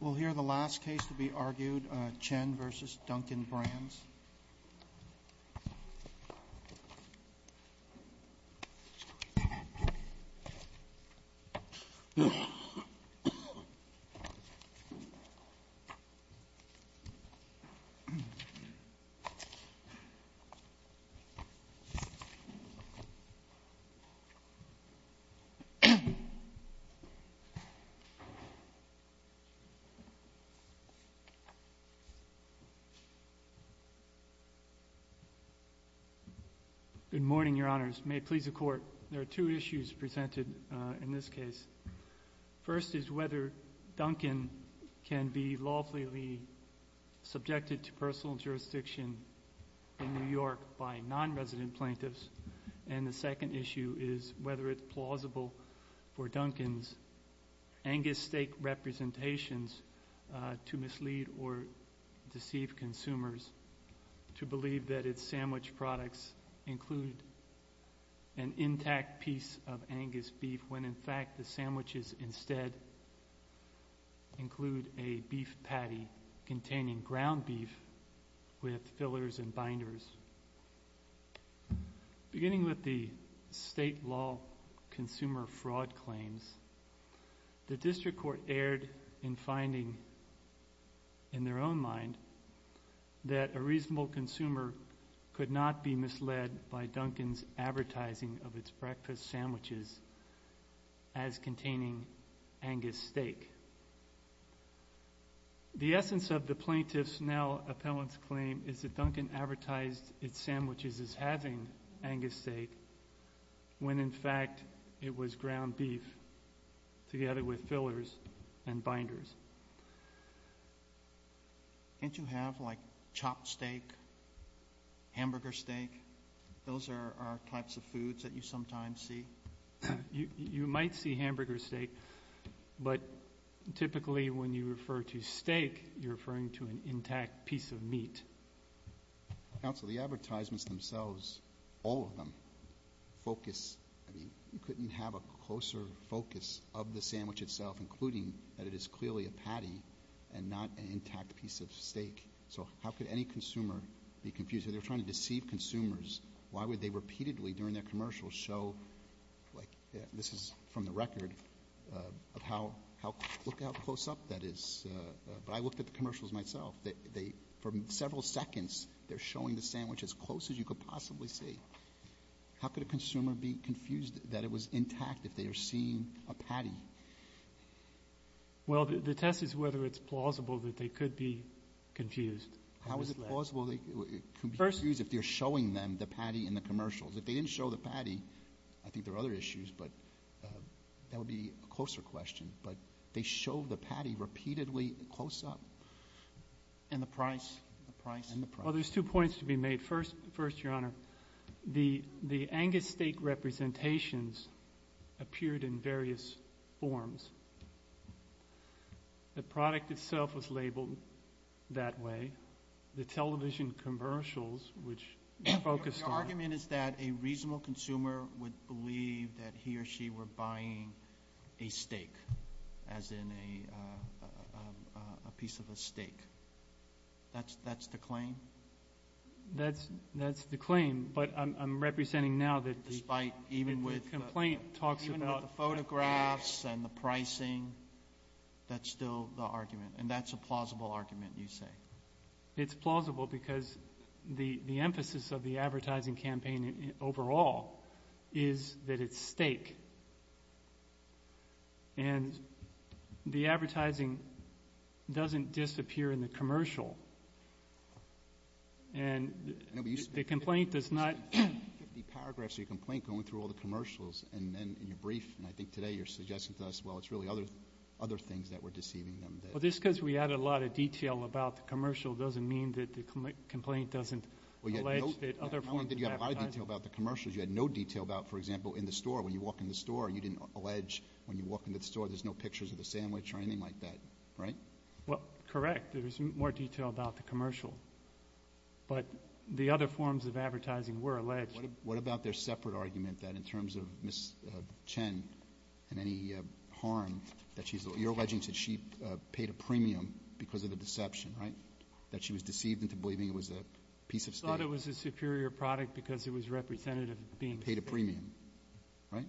We'll hear the last case to be argued, Chen v. Dunkin' Brands. Good morning, Your Honors. May it please the Court, there are two issues presented in this case. First is whether Dunkin' can be lawfully subjected to personal jurisdiction in New York by non-resident plaintiffs, and the second issue is whether it's plausible for Dunkin's Angus steak representations to mislead or deceive consumers to believe that its sandwich products include an intact piece of Angus beef when in fact the sandwiches instead include a beef patty containing ground beef with fillers and binders. Beginning with the state law consumer fraud claims, the District Court erred in finding in their own mind that a reasonable consumer could not be misled by Dunkin's advertising of its breakfast sandwiches as containing Angus steak. The essence of the plaintiff's now appellant's claim is that it was ground beef together with fillers and binders. Can't you have, like, chopped steak, hamburger steak? Those are types of foods that you sometimes see? You might see hamburger steak, but typically when you refer to steak, you're referring to an intact piece of meat. Counsel, the advertisements themselves, all of them, focus, I mean, you couldn't have a closer focus of the sandwich itself, including that it is clearly a patty and not an intact piece of steak. So how could any consumer be confused? If they're trying to deceive consumers, why would they repeatedly during their commercials show, like, this is from the record of how, look how close up that is. But I looked at the commercials myself. From several seconds, they're showing the sandwich as close as you could possibly see. How could a consumer be confused that it was intact if they are seeing a patty? Well, the test is whether it's plausible that they could be confused. How is it plausible they could be confused if they're showing them the patty in the commercials? If they didn't show the patty, I think there are other issues, but that would be a closer question. But they show the patty repeatedly close up. And the price? And the price? Well, there's two points to be made. First, Your Honor, the Angus steak representations appeared in various forms. The product itself was labeled that way. The television commercials, which focused on argument is that a reasonable consumer would believe that he or she were buying a steak, as in a piece of a steak. That's the claim? That's the claim. But I'm representing now that the complaint talks about Even with the photographs and the pricing, that's still the argument. And that's a plausible argument, you say? It's plausible because the emphasis of the advertising campaign overall is that it's steak. And the advertising doesn't disappear in the commercial. And the complaint does not You have 50 paragraphs of your complaint going through all the commercials, and then in your brief, and I think today you're suggesting to us, well, it's really other things that were deceiving them. Well, just because we added a lot of detail about the commercial doesn't mean that the complaint doesn't Well, you had no detail about the commercials. You had no detail about, for example, in the store. When you walk in the store, you didn't allege when you walk into the store there's no pictures of the sandwich or anything like that, right? Well, correct. There was more detail about the commercial. But the other forms of advertising were alleged. What about their separate argument that in terms of Ms. Chen and any harm that she's paid a premium because of the deception, right? That she was deceived into believing it was a piece of steak. She thought it was a superior product because it was representative of being a steak. Paid a premium, right?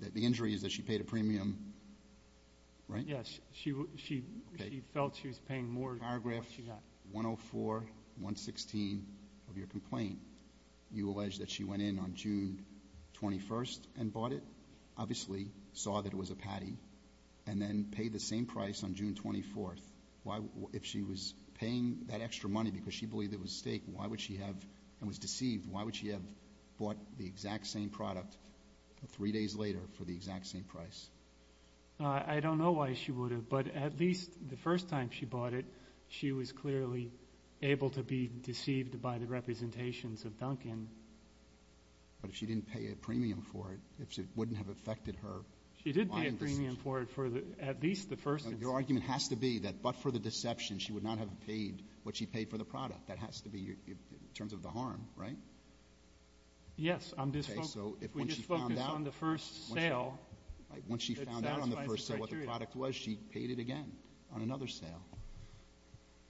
The injury is that she paid a premium, right? Yes. She felt she was paying more than what she got. Paragraph 104, 116 of your complaint, you allege that she went in on June 21st and bought it, obviously saw that it was a patty, and then paid the same price on June 24th. If she was paying that extra money because she believed it was steak and was deceived, why would she have bought the exact same product three days later for the exact same price? I don't know why she would have. But at least the first time she bought it, she was clearly able to be deceived by the representations of Dunkin. But if she didn't pay a premium for it, it wouldn't have affected her. She did pay a premium for it for at least the first time. Your argument has to be that but for the deception, she would not have paid what she paid for the product. That has to be in terms of the harm, right? Yes. I'm just focusing on the first sale. Once she found out on the first sale what the product was, she paid it again on another sale.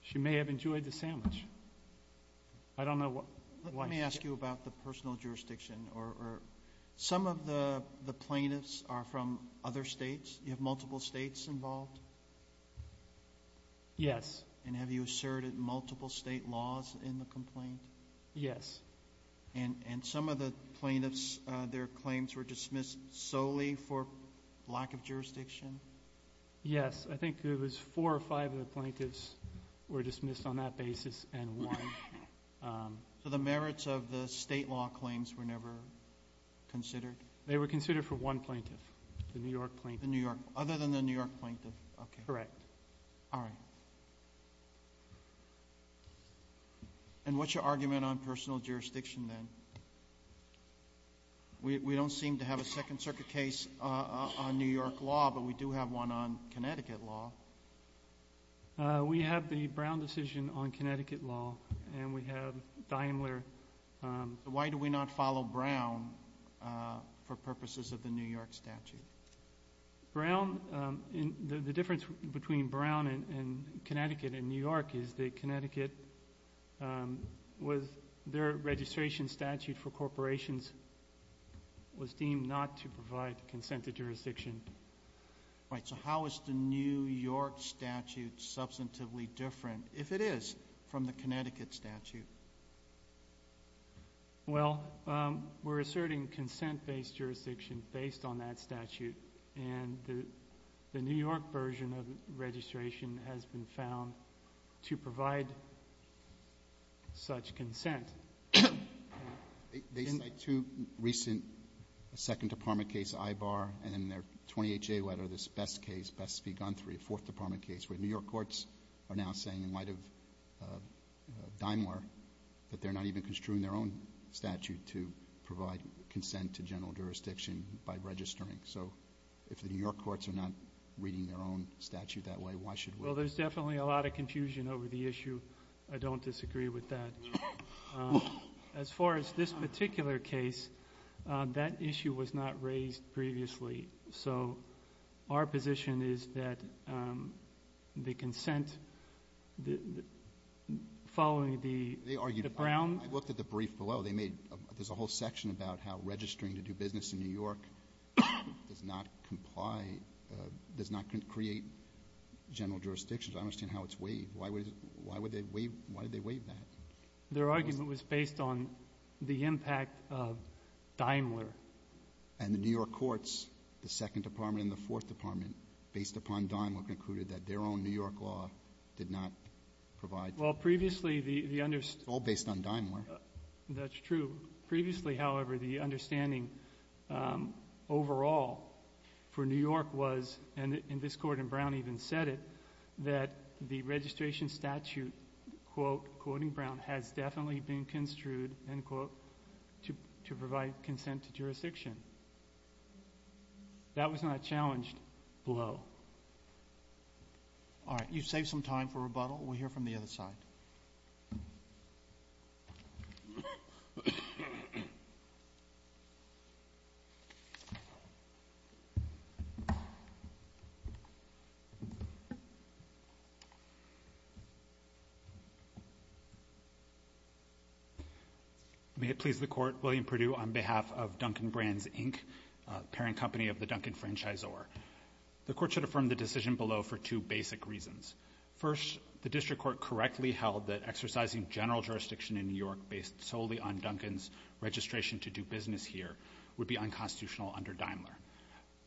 She may have enjoyed the sandwich. I don't know why. Let me ask you about the personal jurisdiction. Some of the plaintiffs are from other states. You have multiple states involved? Yes. And have you asserted multiple state laws in the complaint? Yes. And some of the plaintiffs, their claims were dismissed solely for lack of jurisdiction? Yes. I think it was four or five of the plaintiffs were dismissed on that basis and one. So the merits of the state law claims were never considered? They were considered for one plaintiff, the New York plaintiff. Other than the New York plaintiff? Correct. All right. And what's your argument on personal jurisdiction then? We don't seem to have a Second Circuit case on New York law, but we do have one on Connecticut law. We have the Brown decision on Connecticut law and we have Daimler. Why do we not follow Brown for purposes of the New York statute? The difference between Brown and Connecticut and New York is that Connecticut, with their registration statute for corporations, was deemed not to provide consented jurisdiction. Right. So how is the New York statute substantively different, if it is, from the Connecticut statute? Well, we're asserting consent-based jurisdiction based on that statute and the New York version of registration has been found to provide such consent. They cite two recent Second Department cases, Ibar and their 28-J letter, this Best Case, Best v. Gunthery, a Fourth Department case, where New York courts are now saying in light of Daimler that they're not even construing their own statute to provide consent to general jurisdiction by registering. So if the New York courts are not reading their own statute that way, why should we? Well, there's definitely a lot of confusion over the issue. I don't disagree with that. As far as this particular case, that issue was not raised previously. So our position is that the consent following the Brown... I looked at the brief below. There's a whole section about how registering to do business in New York does not comply, does not create general jurisdiction. I don't understand how it's waived. Why would they waive that? Their argument was based on the impact of Daimler. And the New York courts, the Second Department and the Fourth Department, based upon Daimler, concluded that their own New York law did not provide... Well, previously, the... It's all based on Daimler. That's true. Previously, however, the understanding overall for New York was, and this court in Brown even said it, that the registration statute, quote, quoting Brown, has definitely been construed, end quote, to provide consent to jurisdiction. That was not challenged below. All right. You've saved some time for rebuttal. We'll hear from the other side. May it please the Court, William Perdue on behalf of Duncan Brands, Inc., parent company of the Duncan Franchisor. The Court should affirm the decision below for two basic reasons. First, the district court correctly held that exercising general jurisdiction in New York based solely on Duncan's registration to do business here would be unconstitutional under Daimler.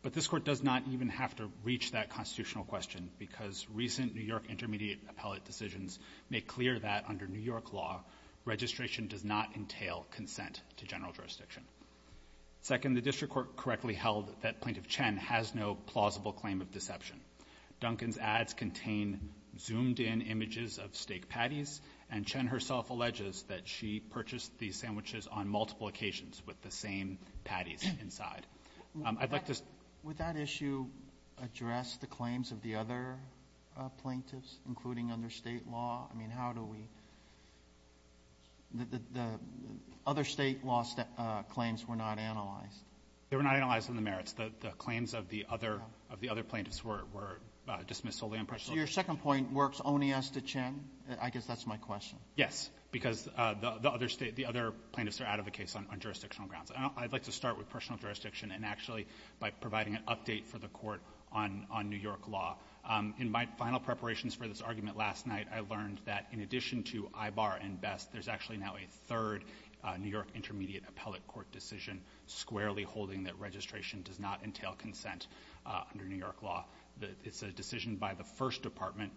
But this Court does not even have to reach that constitutional question, because recent New York intermediate appellate decisions make clear that under New York law, registration does not entail consent to general jurisdiction. Second, the district court correctly held that Plaintiff Chen has no plausible claim of deception. Duncan's ads contain zoomed-in images of steak patties, and Chen herself alleges that she purchased these sandwiches on multiple occasions with the same patties inside. I'd like to... Would that issue address the claims of the other plaintiffs, including under State law? I mean, how do we... The other State law claims were not analyzed. They were not analyzed in the merits. The claims of the other plaintiffs were dismissed solely on personal... So your second point works only as to Chen? I guess that's my question. Yes, because the other plaintiffs are out of the case on jurisdictional grounds. I'd like to start with personal jurisdiction and actually by providing an update for the court on New York law. In my final preparations for this argument last night, I learned that in addition to Ibar and Best, there's actually now a third New York intermediate appellate court decision squarely holding that registration does not entail consent under New York law. It's a decision by the first department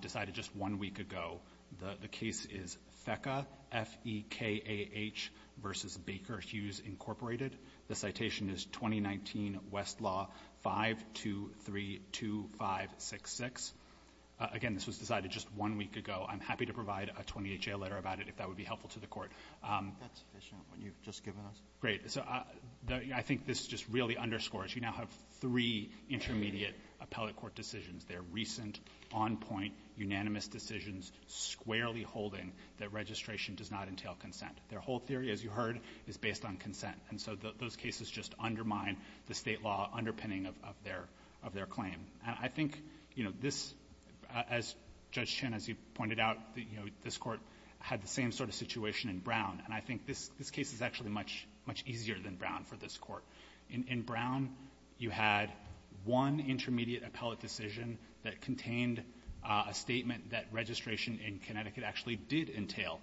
decided just one week ago. The case is FECA, F-E-K-A-H versus Baker Hughes, Incorporated. The citation is 2019 West Law 5232566. Again, this was decided just one week ago. I'm happy to provide a 28-J letter about it if that would be helpful to the court. That's sufficient, what you've just given us. Great. So I think this just really underscores you now have three intermediate appellate court decisions. They're recent, on point, unanimous decisions squarely holding that registration does not entail consent. Their whole theory, as you heard, is based on consent. And so those cases just undermine the State law underpinning of their claim. And I think, you know, this, as Judge Chin, as you pointed out, you know, this court had the same sort of situation in Brown. And I think this case is actually much easier than Brown for this court. In Brown, you had one intermediate appellate decision that contained a statement that registration in Connecticut actually did entail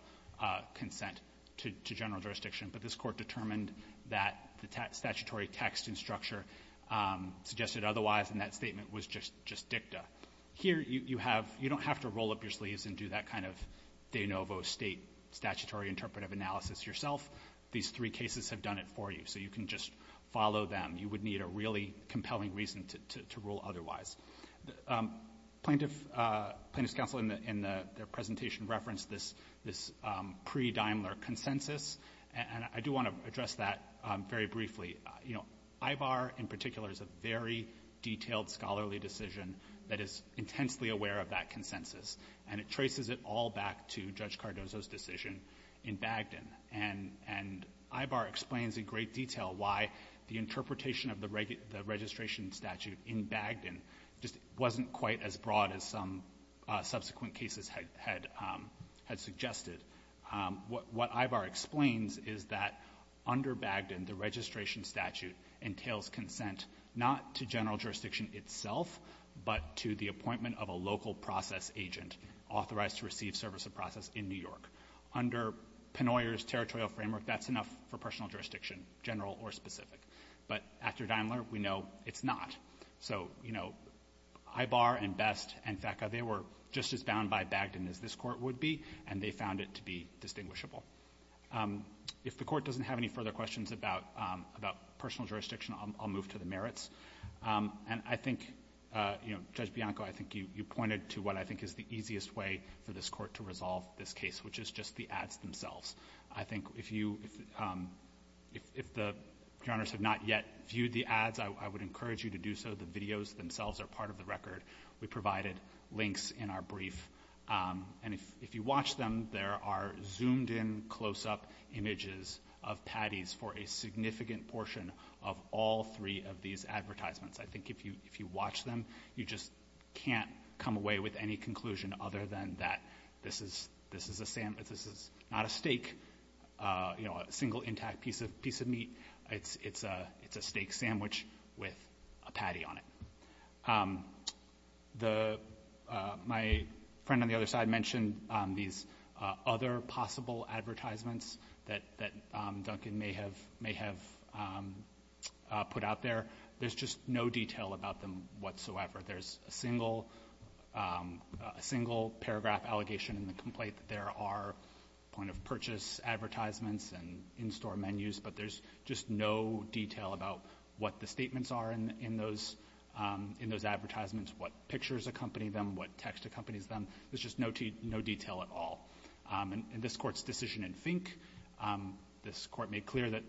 consent to general jurisdiction. But this court determined that the statutory text and structure suggested otherwise, and that statement was just dicta. Here, you have — you don't have to roll up your sleeves and do that kind of de novo State statutory interpretive analysis yourself. These three cases have done it for you. So you can just follow them. You would need a really compelling reason to rule otherwise. Plaintiff's counsel in their presentation referenced this pre-Daimler consensus, and I do want to address that very briefly. You know, Ibar in particular is a very detailed scholarly decision that is intensely aware of that consensus, and it traces it all back to Judge Cardozo's decision in Bagdon. And Ibar explains in great detail why the interpretation of the registration statute in Bagdon just wasn't quite as broad as some subsequent cases had suggested. What Ibar explains is that under Bagdon, the registration statute entails consent not to general jurisdiction itself, but to the appointment of a local process agent authorized to receive service of process in New York. Under Pennoyer's territorial framework, that's enough for personal jurisdiction, general or specific. But after Daimler, we know it's not. So, you know, Ibar and Best and FACA, they were just as bound by Bagdon as this Court would be, and they found it to be distinguishable. If the Court doesn't have any further questions about personal jurisdiction, I'll move to the merits. And I think, you know, Judge Bianco, I think you pointed to what I think is the easiest way for this Court to resolve this case, which is just the ads themselves. I think if you – if the – if Your Honors have not yet viewed the ads, I would encourage you to do so. The videos themselves are part of the record. We provided links in our brief. And if you watch them, there are zoomed-in, close-up images of patties for a significant portion of all three of these advertisements. I think if you watch them, you just can't come away with any conclusion other than that this is – this is a – this is not a steak, you know, a single intact piece of meat. It's a steak sandwich with a patty on it. The – my friend on the other side mentioned these other possible advertisements that Duncan may have – may have put out there. There's just no detail about them in the complaint that there are point-of-purchase advertisements and in-store menus, but there's just no detail about what the statements are in those – in those advertisements, what pictures accompany them, what text accompanies them. There's just no detail at all. And this Court's decision in Fink, this Court made clear that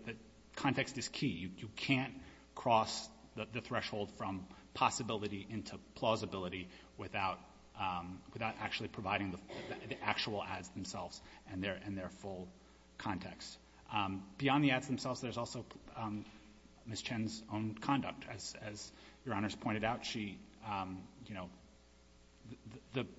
context is key. You can't cross the threshold from possibility into plausibility without – without actually providing the actual ads themselves and their full context. Beyond the ads themselves, there's also Ms. Chen's own conduct. As Your Honors pointed out, she – you know, the –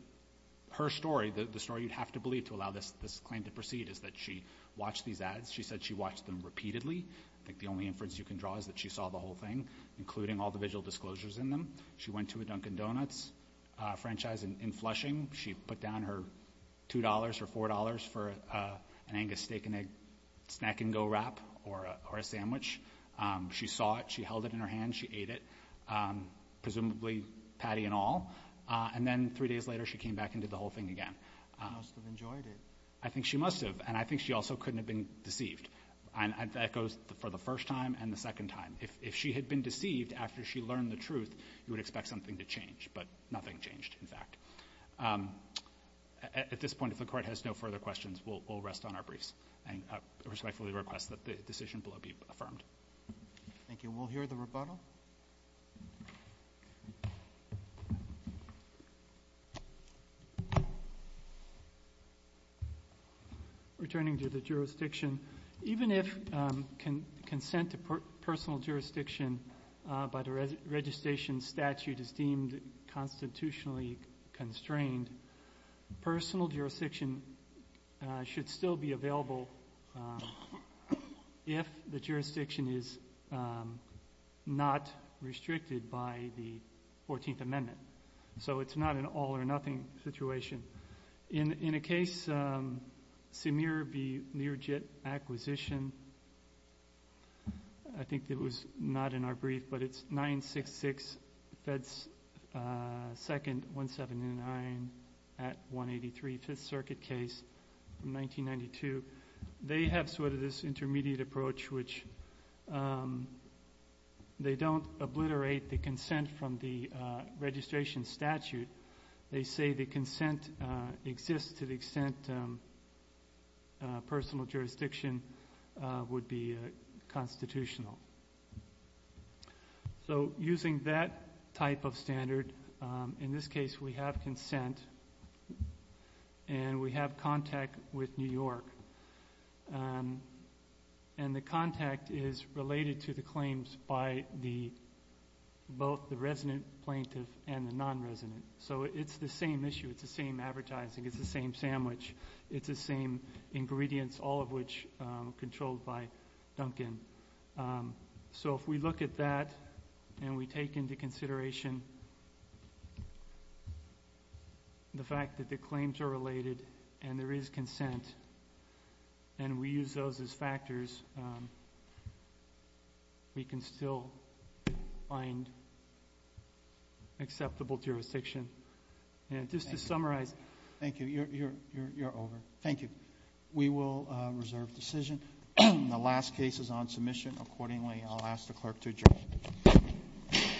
her story, the story you'd have to believe to allow this claim to proceed is that she watched these ads. She said she saw them repeatedly. I think the only inference you can draw is that she saw the whole thing, including all the visual disclosures in them. She went to a Dunkin' Donuts franchise in Flushing. She put down her $2 or $4 for an Angus steak and egg snack-and-go wrap or a sandwich. She saw it. She held it in her hand. She ate it, presumably patty and all. And then three days later, she came back and did the whole thing again. She must have enjoyed it. I think she must have, and I think she also couldn't have been deceived. And that goes for the first time and the second time. If she had been deceived after she learned the truth, you would expect something to change, but nothing changed, in fact. At this point, if the Court has no further questions, we'll rest on our briefs and respectfully request that the decision below be affirmed. Thank you. We'll hear the rebuttal. Returning to the jurisdiction, even if consent to personal jurisdiction by the registration statute is deemed constitutionally constrained, personal jurisdiction should still be available if the jurisdiction is not restricted by the 14th Amendment. So it's not an all-or-nothing situation. In a case, Semir v. Learjet Acquisition, I think it was not in our brief, but it's sort of this intermediate approach, which they don't obliterate the consent from the registration statute. They say the consent exists to the extent personal jurisdiction would be constitutional. So using that type of standard, in this case we have consent and we have contact with New York. And the contact is related to the claims by both the resident plaintiff and the non-resident. So it's the same issue, it's the same advertising, it's the same sandwich, it's the same ingredients, all of which are controlled by Duncan. So if we look at that and we take into consideration the fact that the claims are related and there is consent, and we use those as factors, we can still find acceptable jurisdiction. And just to summarize. Thank you. You're over. Thank you. We will reserve decision. The last case is on submission. Accordingly, I'll ask the clerk to adjourn.